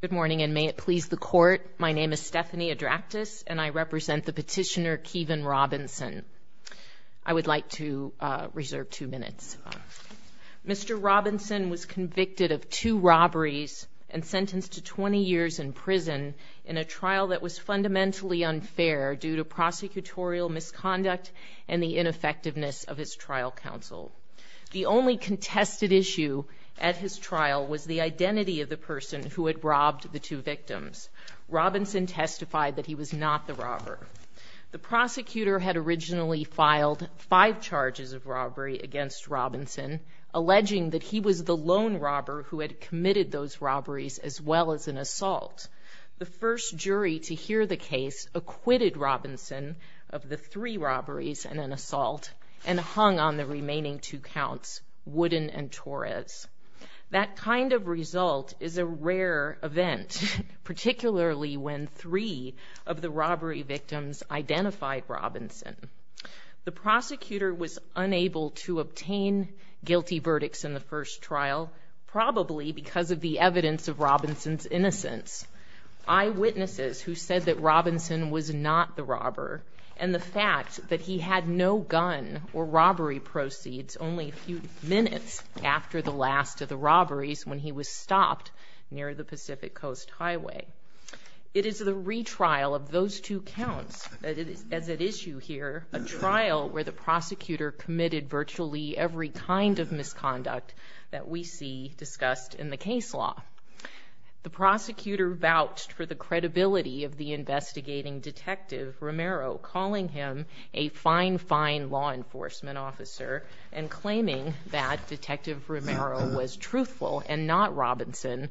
Good morning and may it please the court, my name is Stephanie Adractis and I represent the petitioner Keeven Robinson. I would like to reserve two minutes. Mr. Robinson was convicted of two robberies and sentenced to 20 years in prison in a trial that was fundamentally unfair due to prosecutorial misconduct and the ineffectiveness of his trial counsel. The only contested issue at his trial was the identity of the person who had robbed the two victims. Robinson testified that he was not the robber. The prosecutor had originally filed five charges of robbery against Robinson, alleging that he was the lone robber who had committed those robberies as well as an assault. The first jury to hear the case acquitted Robinson of the three robberies and an assault and hung on the remaining two counts, Wooden and Torres. That kind of result is a rare event, particularly when three of the robbery victims identified Robinson. The prosecutor was unable to obtain guilty verdicts in the first trial, probably because of the evidence of Robinson's innocence. Eyewitnesses who said that Robinson was not the robber and the fact that he had no gun or robbery proceeds only a few minutes after the last of the robberies when he was stopped near the Pacific Coast Highway. It is the retrial of those two counts that is at issue here, a trial where the prosecutor committed virtually every kind of misconduct that we see discussed in the case law. The investigating Detective Romero, calling him a fine, fine law enforcement officer and claiming that Detective Romero was truthful and not Robinson.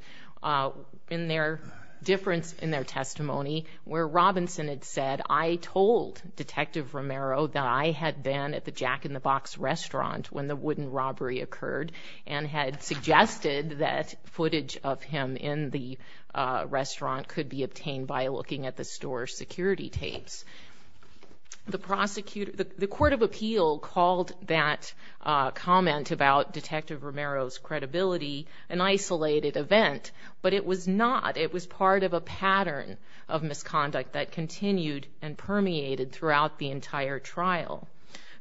In their difference in their testimony where Robinson had said, I told Detective Romero that I had been at the Jack in the Box restaurant when the wooden robbery occurred and had suggested that footage of him in the store security tapes. The prosecutor, the Court of Appeal called that comment about Detective Romero's credibility an isolated event, but it was not. It was part of a pattern of misconduct that continued and permeated throughout the entire trial.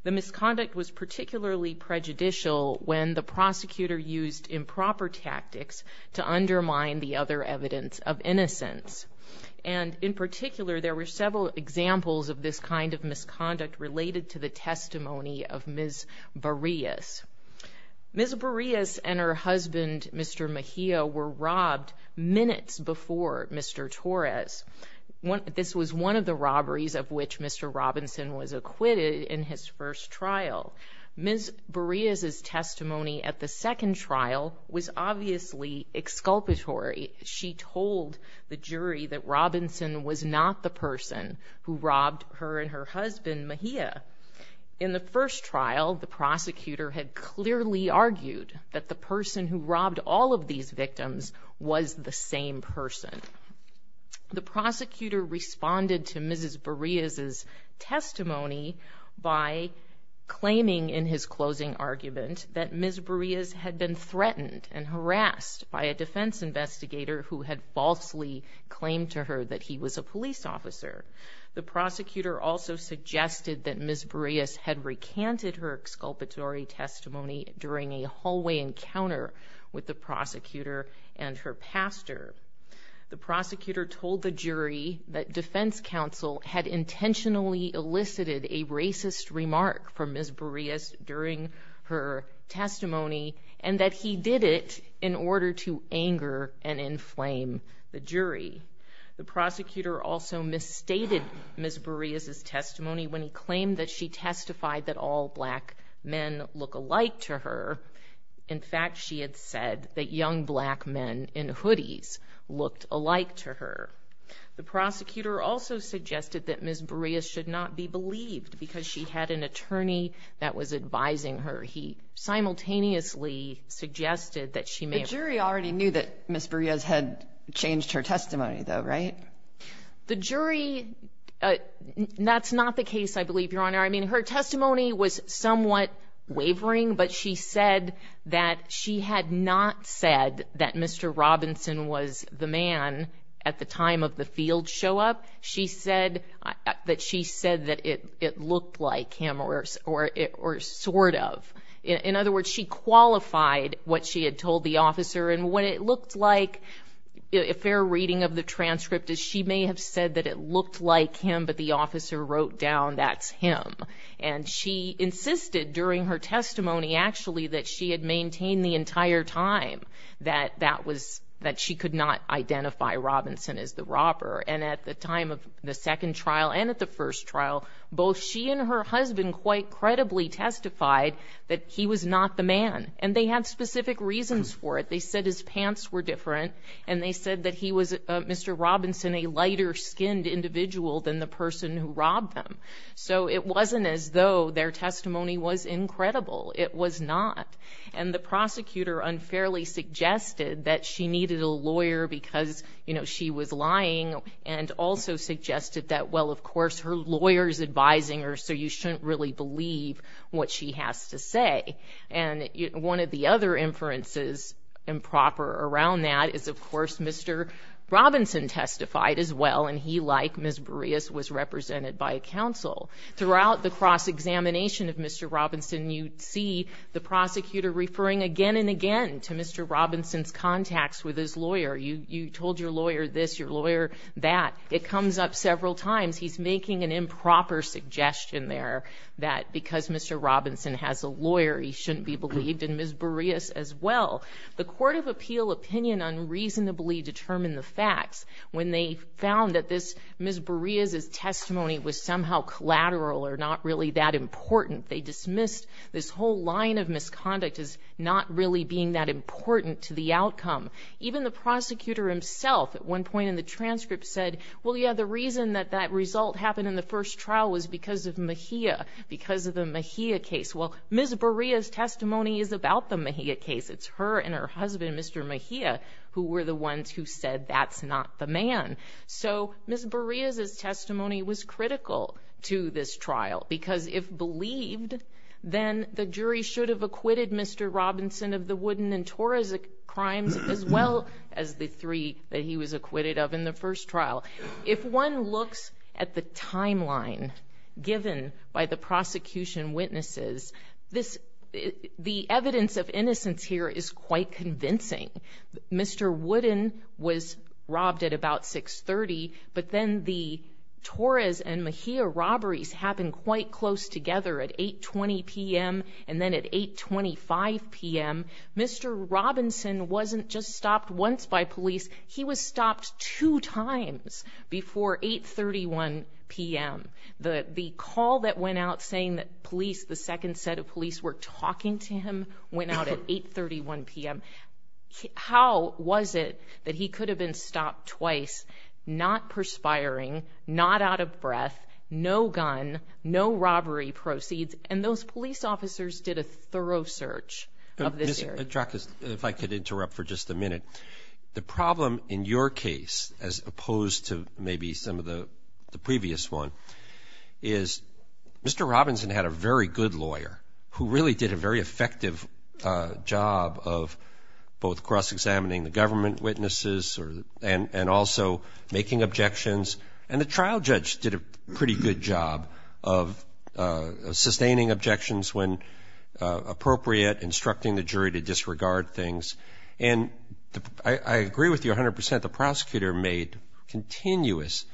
The misconduct was particularly prejudicial when the prosecutor used improper tactics to undermine the other evidence of innocence. And in particular, there were several examples of this kind of misconduct related to the testimony of Ms. Boreas. Ms. Boreas and her husband, Mr. Mejia, were robbed minutes before Mr. Torres. This was one of the robberies of which Mr. Robinson was acquitted in his first trial. Ms. Boreas' testimony at the second trial was obviously exculpatory. She told the jury that Robinson was not the person who robbed her and her husband, Mejia. In the first trial, the prosecutor had clearly argued that the person who robbed all of these victims was the same person. The prosecutor responded to Ms. Boreas' testimony by claiming in his closing argument that Ms. Boreas had been threatened and harassed by a defense investigator who had falsely claimed to her that he was a police officer. The prosecutor also suggested that Ms. Boreas had recanted her exculpatory testimony during a hallway encounter with the prosecutor and her pastor. The prosecutor told the jury that defense counsel had intentionally elicited a racist remark from Ms. Boreas during her testimony and that he did it in order to anger and inflame the jury. The prosecutor also misstated Ms. Boreas' testimony when he claimed that she testified that all black men look alike to her. In fact, she had said that young black men in hoodies looked alike to her. The prosecutor also suggested that Ms. Boreas should not be believed because she had an attorney that was advising her. He simultaneously suggested that she may have... The jury already knew that Ms. Boreas had changed her testimony, though, right? The jury... That's not the case, I believe, Your Honor. I mean, her testimony was somewhat wavering, but she said that she had not said that Mr. Robinson was the man at the time of the field show up. She said that she said that it looked like him or sort of. In other words, she qualified what she had told the officer and what it looked like, a fair reading of the transcript, is she may have said that it looked like him, but the officer wrote down that's him. And she insisted during her testimony, actually, that she had maintained the entire time that she could not identify Robinson as the robber. And at the time of the second trial and at the first trial, both she and her husband quite credibly testified that he was not the man. And they had specific reasons for it. They said his pants were different and they said that he was, Mr. Robinson, a lighter skinned individual than the person who robbed him. So it wasn't as though their testimony was incredible. It was not. And the prosecutor unfairly suggested that she needed a lawyer because, you know, she was lying and also suggested that, well, of course, her lawyer's advising her, so you shouldn't really believe what she has to say. And one of the other inferences improper around that is, of course, Mr. Robinson testified as well. And he, like Ms. Boreas, was represented by counsel. Throughout the cross-examination of Mr. Robinson, you see the prosecutor referring again and again to Mr. Robinson's contacts with his lawyer. You told your lawyer this, your lawyer that. It comes up several times. He's making an improper suggestion there that because Mr. Robinson has a lawyer, he shouldn't be believed, and Ms. Boreas as well. The Court of Appeal opinion unreasonably determined the facts when they found that Ms. Boreas' testimony was somehow collateral or not really that important. They dismissed this whole line of misconduct as not really being that important to the outcome. Even the prosecutor himself at one point in the transcript said, well, yeah, the reason that that result happened in the first trial was because of Mejia, because of the Mejia case. Well, Ms. Boreas' testimony is about the Mejia case. It's her and her husband, Mr. Mejia, who were the ones who was critical to this trial because if believed, then the jury should have acquitted Mr. Robinson of the Woodin and Torres crimes as well as the three that he was acquitted of in the first trial. If one looks at the timeline given by the prosecution witnesses, the evidence of innocence here is quite convincing. Mr. Woodin was robbed at about 630, but then the Torres and Mejia robberies happened quite close together at 820 p.m. and then at 825 p.m. Mr. Robinson wasn't just stopped once by police. He was stopped two times before 831 p.m. The call that went out saying that police, the second set of police were talking to him, went out at 831 p.m. How was it that he could have been stopped twice, not perspiring, not out of breath, no gun, no robbery proceeds, and those police officers did a thorough search of this area? Mr. Atrakis, if I could interrupt for just a minute. The problem in your case, as opposed to maybe some of the previous one, is Mr. Robinson had a very good lawyer who really did a very effective job of both cross-examining the government witnesses and also making objections and the trial judge did a pretty good job of sustaining objections when appropriate, instructing the jury to disregard things. And I agree with you 100 percent, the prosecutor made continuous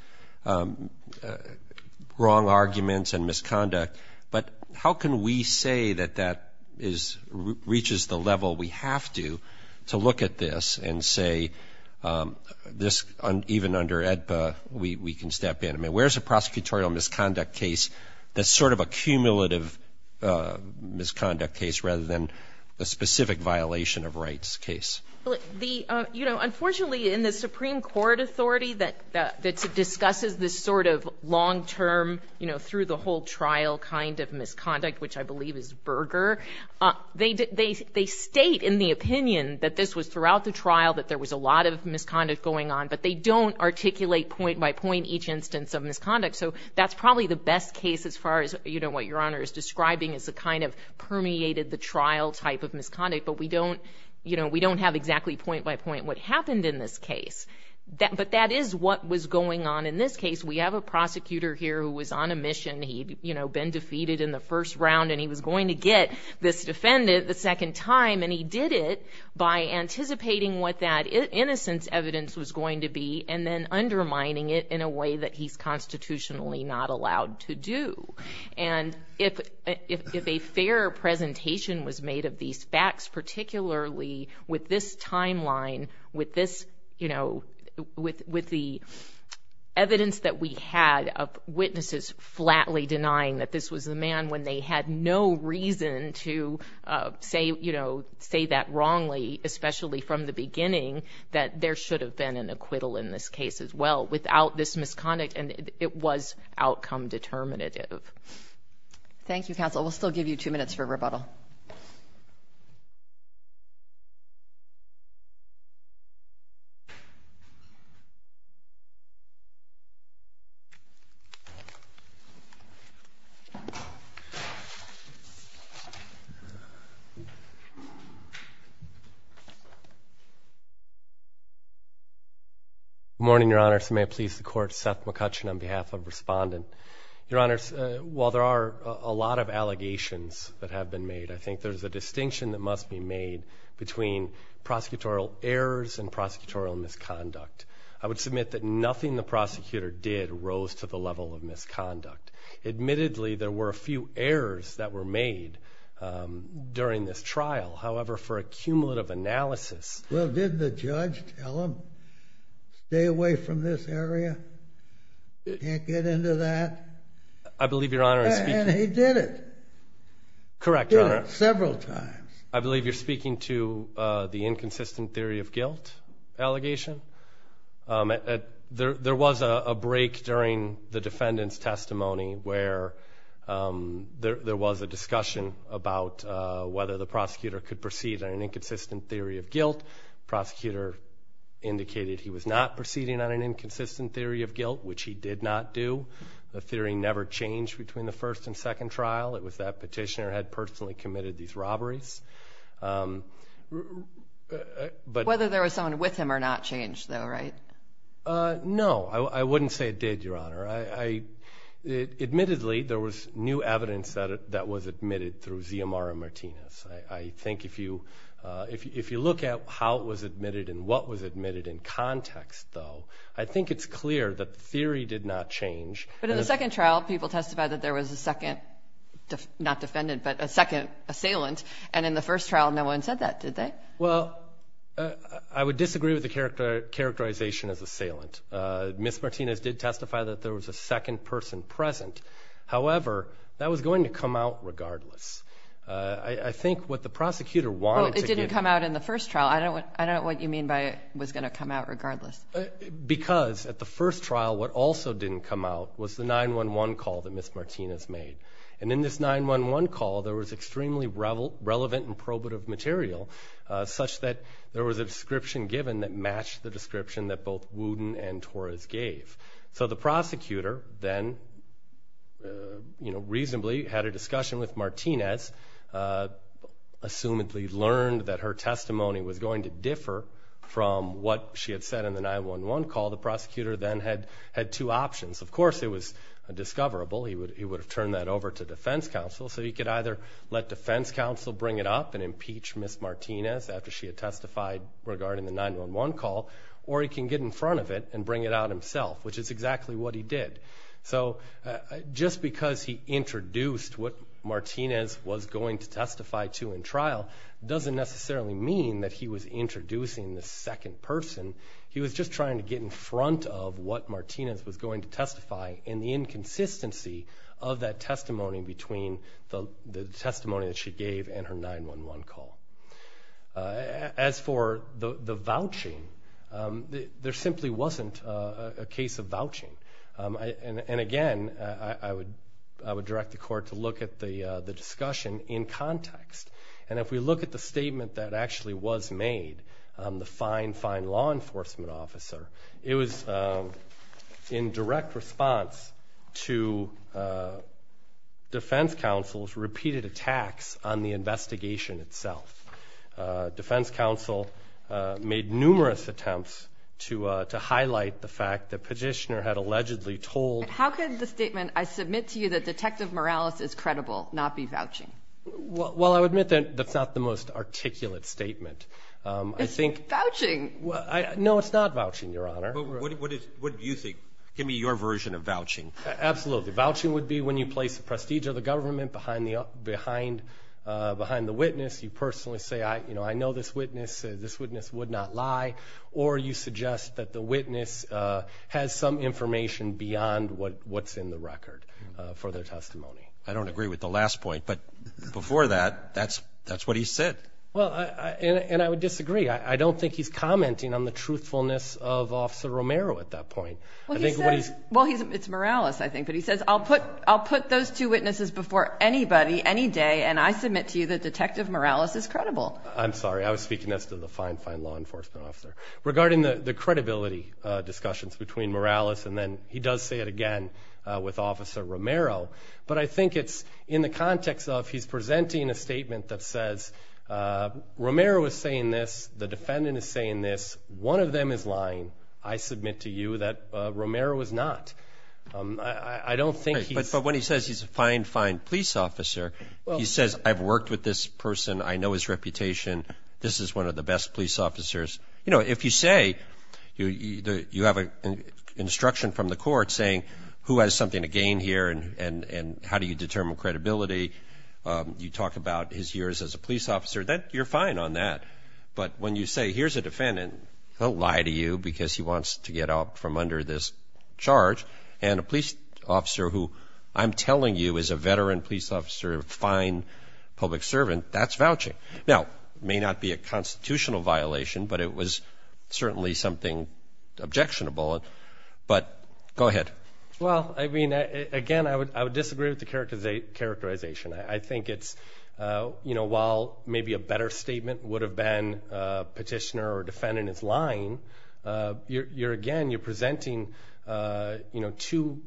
wrong arguments and misconduct, but how can we say that that reaches the level we have to, to look at this and say this, even under AEDPA, we can step in? I mean, where's a prosecutorial misconduct case that's sort of a cumulative misconduct case rather than a specific violation of rights case? Well, the, you know, unfortunately in the Supreme Court authority that discusses this sort of long-term, you know, through the whole trial kind of misconduct, which I believe is Berger, they state in the opinion that this was throughout the trial, that there was a lot of misconduct going on, but they don't articulate point by point each instance of misconduct. So that's probably the best case as far as, you know, what Your Honor is describing as a kind of permeated the trial type of misconduct, but we don't, you know, we don't have exactly point by point what happened in this case. But that is what was going on in this case. We have a prosecutor here who was on a mission. He'd, you know, been defeated in the first round and he was going to get this defendant the second time and he did it by anticipating what that innocence evidence was going to be and then undermining it in a way that he's constitutionally not allowed to do. And if a fair presentation was made of these facts, particularly with this timeline, with this, you know, with the evidence that we had of witnesses flatly denying that this was the man when they had no reason to say, you know, say that wrongly, especially from the beginning, that there should have been an acquittal in this case as well without this misconduct and it was outcome determinative. Thank you, counsel. We'll still give you two minutes for rebuttal. Good morning, Your Honors. May it please the Court, Seth McCutcheon on behalf of Respondent. Your Honors, while there are a lot of allegations that have been made, I think there's a distinction that must be made between prosecutorial errors and prosecutorial misconduct. I would submit that nothing the prosecutor did rose to the level of misconduct. Admittedly, there were a few errors that were made during this trial. However, for a cumulative analysis... Well, didn't the judge tell him, stay away from this area, can't get into that? I believe Your Honor is speaking... And he did it. Correct, Your Honor. He did it several times. I believe you're speaking to the inconsistent theory of guilt allegation. There was a break during the defendant's testimony where there was a discussion about whether the prosecutor could proceed on an inconsistent theory of guilt. Prosecutor indicated he was not proceeding on an inconsistent theory of guilt, which he did not do. The theory never changed between the first and second trial. It was that petitioner had personally committed these robberies. Whether there was someone with him or not changed though, right? No, I wouldn't say it did, Your Honor. Admittedly, there was new evidence that was admitted through Xiomara Martinez. I think if you look at how it was admitted and what was admitted in context though, I think it's clear that the theory did not change. But in the second trial, people testified that there was a second, not defendant, but a second assailant. And in the first trial, no one said that, did they? Well, I would disagree with the characterization as assailant. Ms. Martinez did testify that there was a second person present. However, that was going to come out regardless. I think what the prosecutor wanted to give... Well, it didn't come out in the first trial. I don't know what you mean by it was going to come out regardless. Because at the first trial, what also didn't come out was the 911 call that Ms. Martinez made. And in this 911 call, there was extremely relevant and probative material such that there was a description given that matched the description that both Wooten and Torres gave. So the prosecutor then reasonably had a discussion with Martinez, assumedly learned that her testimony was going to differ from what she had said in the 911 call. The prosecutor then had two options. Of course, it was a discoverable. He would have turned that over to defense counsel. So he could either let defense counsel bring it up and impeach Ms. Martinez after she had testified regarding the 911 call, or he can get in front of it and bring it out himself, which is exactly what he did. So just because he introduced what Martinez was going to testify to in trial doesn't necessarily mean that he was introducing the second person. He was just trying to get in front of what Martinez was going to testify and the inconsistency of that testimony between the testimony that she gave and her 911 call. As for the vouching, there simply wasn't a case of vouching. And again, I would direct the Court to look at the discussion in context. And if we look at the statement that actually was made, the fine, fine law enforcement officer, it was in direct response to defense counsel's repeated attacks on the investigation itself. Defense counsel made numerous attempts to highlight the fact that Petitioner had allegedly told the prosecution that the prosecution had been involved in a crime. And that's a very, very important point. How could the statement, I submit to you that Detective Morales is credible, not be vouching? Well, I would admit that that's not the most articulate statement. It's vouching. No, it's not vouching, Your Honor. What do you think? Give me your version of vouching. Absolutely. Vouching would be when you place the prestige of the government behind the witness. You personally say, I know this witness. This witness would not lie. Or you suggest that the witness has some information beyond what's in the record for their testimony. I don't agree with the last point, but before that, that's what he said. And I would disagree. I don't think he's commenting on the truthfulness of Officer Romero at that point. Well, it's Morales, I think, but he says, I'll put those two witnesses before anybody, any day, and I submit to you that Detective Morales is credible. I'm sorry. I was speaking as to the fine, fine law enforcement officer. Regarding the credibility discussions between Morales, and then he does say it again with Officer Romero, but I think it's in the context of he's presenting a statement that says, Romero is saying this. The defendant is saying this. One of them is lying. I submit to you that Romero is not. I don't think he's. But when he says he's a fine, fine police officer, he says, I've worked with this person. I know his reputation. This is one of the best police officers. You know, if you say you have an instruction from the court saying who has something to gain here and how do you determine credibility, you talk about his years as a police officer, you're fine on that. But when you say, here's a defendant, he'll lie to you because he wants to get out from under this charge, and a police officer who I'm telling you is a veteran police officer, a fine public servant, that's vouching. Now, it may not be a constitutional violation, but it was certainly something objectionable, but go ahead. Well, I mean, again, I would disagree with the characterization. I think it's, you know, while maybe a better statement would have been petitioner or defendant is lying, you're again, you're presenting, you know, two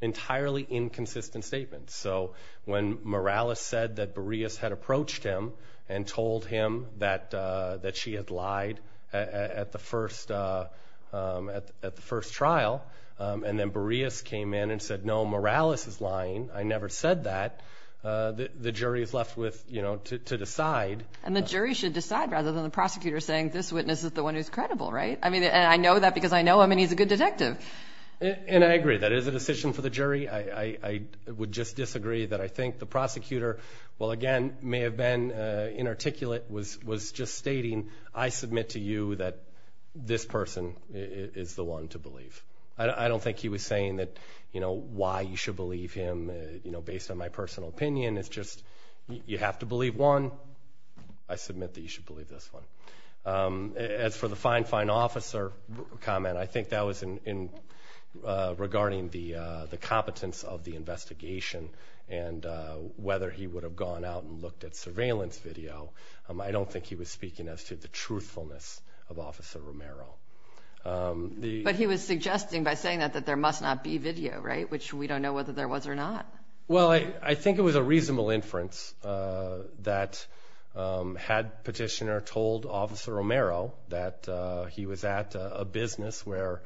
entirely inconsistent statements. So when Morales said that Boreas had approached him and told him that she had lied at the first trial, and then Boreas came in and said, no, Morales is lying, I never said that, the jury is left with, you know, to decide. And the jury should decide rather than the prosecutor saying this witness is the one who's credible, right? I mean, and I know that because I know him and he's a good detective. And I agree, that is a decision for the jury. I would just disagree that I think the prosecutor, well, again, may have been inarticulate, was just stating I submit to you that this person is the one to believe. I don't think he was saying that, you know, why you should believe him, you know, based on my personal opinion. It's just you have to believe one. I submit that you should believe this one. As for the fine, fine officer comment, I think that was regarding the competence of the investigation and whether he would have gone out and looked at surveillance video. I don't think he was speaking as to the truthfulness of Officer Romero. But he was suggesting by saying that that there must not be video, right, which we don't know whether there was or not. Well, I think it was a reasonable inference that had Petitioner told Officer Romero that he was at a business where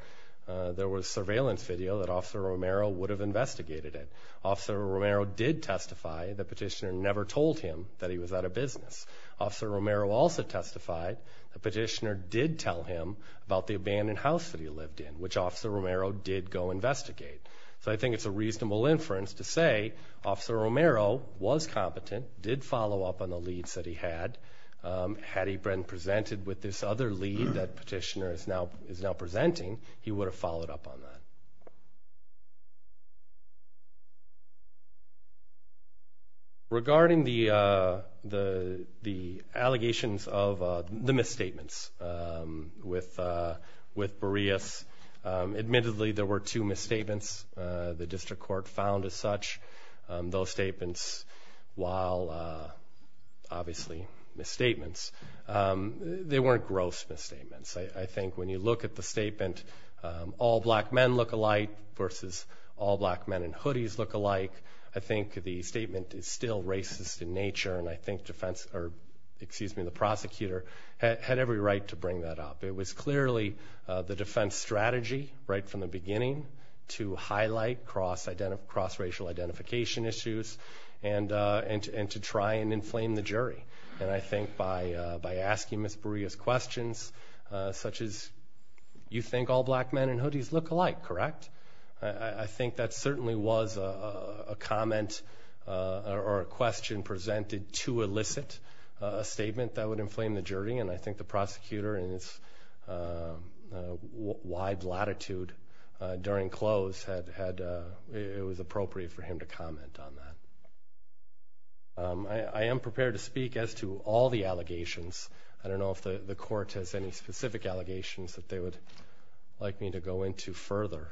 there was surveillance video that Officer Romero would have investigated it. Officer Romero did testify that Petitioner never told him that he was at a business. Officer Romero also testified that Petitioner did tell him about the abandoned house that he lived in, which Officer Romero did go investigate. So I think it's a reasonable inference to say Officer Romero was competent, did follow up on the leads that he had. Had he been presented with this other lead that Petitioner is now presenting, he would have followed up on that. Regarding the allegations of the misstatements with Boreas, admittedly there were two misstatements. The district court found as such those statements while obviously misstatements. They weren't gross misstatements. I think when you look at the statement, all black men look alike versus all black men in hoodies look alike, I think the statement is still racist in nature, and I think the prosecutor had every right to bring that up. It was clearly the defense strategy right from the beginning to highlight cross-racial identification issues and to try and inflame the jury. And I think by asking Ms. Boreas questions such as, you think all black men in hoodies look alike, correct? I think that certainly was a comment or a question presented to elicit a statement that would inflame the jury, and I think the prosecutor in its wide latitude during close, it was appropriate for him to comment on that. I am prepared to speak as to all the allegations. I don't know if the court has any specific allegations that they would like me to go into further.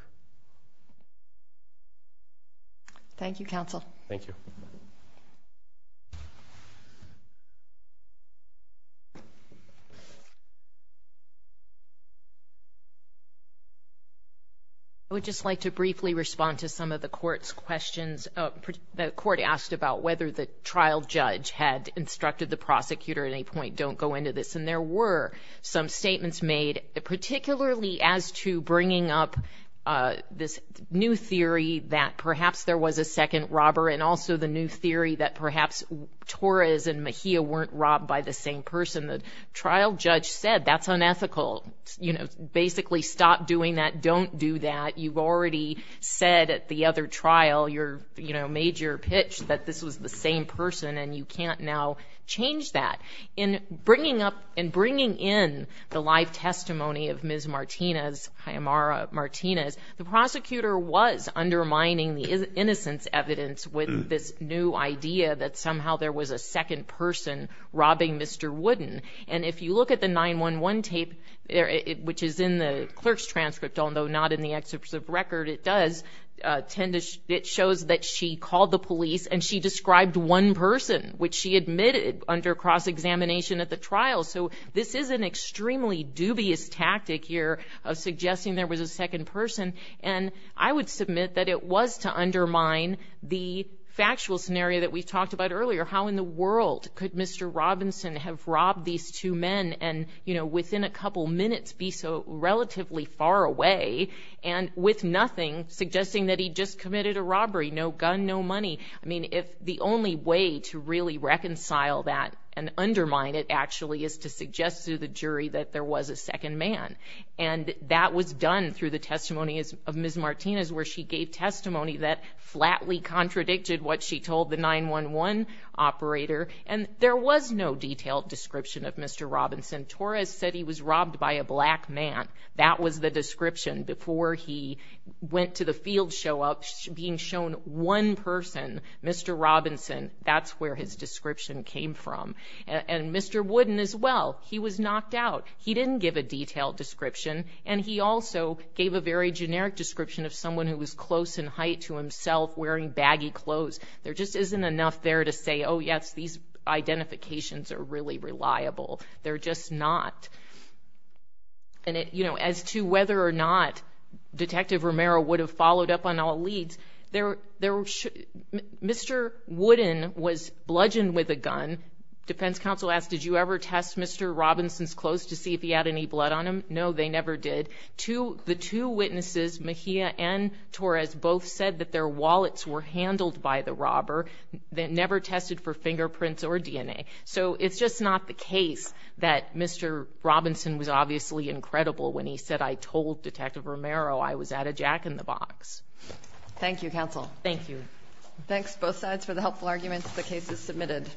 Thank you, counsel. Thank you. I would just like to briefly respond to some of the court's questions. The court asked about whether the trial judge had instructed the prosecutor at any point, don't go into this, and there were some statements made, particularly as to bringing up this new theory that perhaps there was a second robber and also the new theory that perhaps Torres and Mejia weren't robbed by the same person. The trial judge said that's unethical. You know, basically stop doing that. Don't do that. You've already said at the other trial, you know, made your pitch that this was the same person, and you can't now change that. In bringing up and bringing in the live testimony of Ms. Martinez, the prosecutor was undermining the innocence evidence with this new idea that somehow there was a second person robbing Mr. Wooden. And if you look at the 911 tape, which is in the clerk's transcript, although not in the excerpt of record, it does tend to show that she called the police and she described one person, which she admitted under cross-examination at the trial. So this is an extremely dubious tactic here of suggesting there was a second person. And I would submit that it was to undermine the factual scenario that we talked about earlier, how in the world could Mr. Robinson have robbed these two men and, you know, within a couple minutes be so relatively far away and with nothing, suggesting that he just committed a robbery, no gun, no money. I mean, if the only way to really reconcile that and undermine it actually is to suggest to the jury that there was a second man. And that was done through the testimony of Ms. Martinez, where she gave testimony that flatly contradicted what she told the 911 operator. And there was no detailed description of Mr. Robinson. Torres said he was robbed by a black man. That was the description before he went to the field show up, being shown one person, Mr. Robinson. That's where his description came from. And Mr. Wooden as well, he was knocked out. He didn't give a detailed description, and he also gave a very generic description of someone who was close in height to himself wearing baggy clothes. There just isn't enough there to say, oh, yes, these identifications are really reliable. They're just not. And, you know, as to whether or not Detective Romero would have followed up on all leads, Mr. Wooden was bludgeoned with a gun. Defense counsel asked, did you ever test Mr. Robinson's clothes to see if he had any blood on him? No, they never did. The two witnesses, Mejia and Torres, both said that their wallets were handled by the robber. They never tested for fingerprints or DNA. So it's just not the case that Mr. Robinson was obviously incredible when he said I told Detective Romero I was at a jack-in-the-box. Thank you, counsel. Thank you. Thanks, both sides, for the helpful arguments. The case is submitted.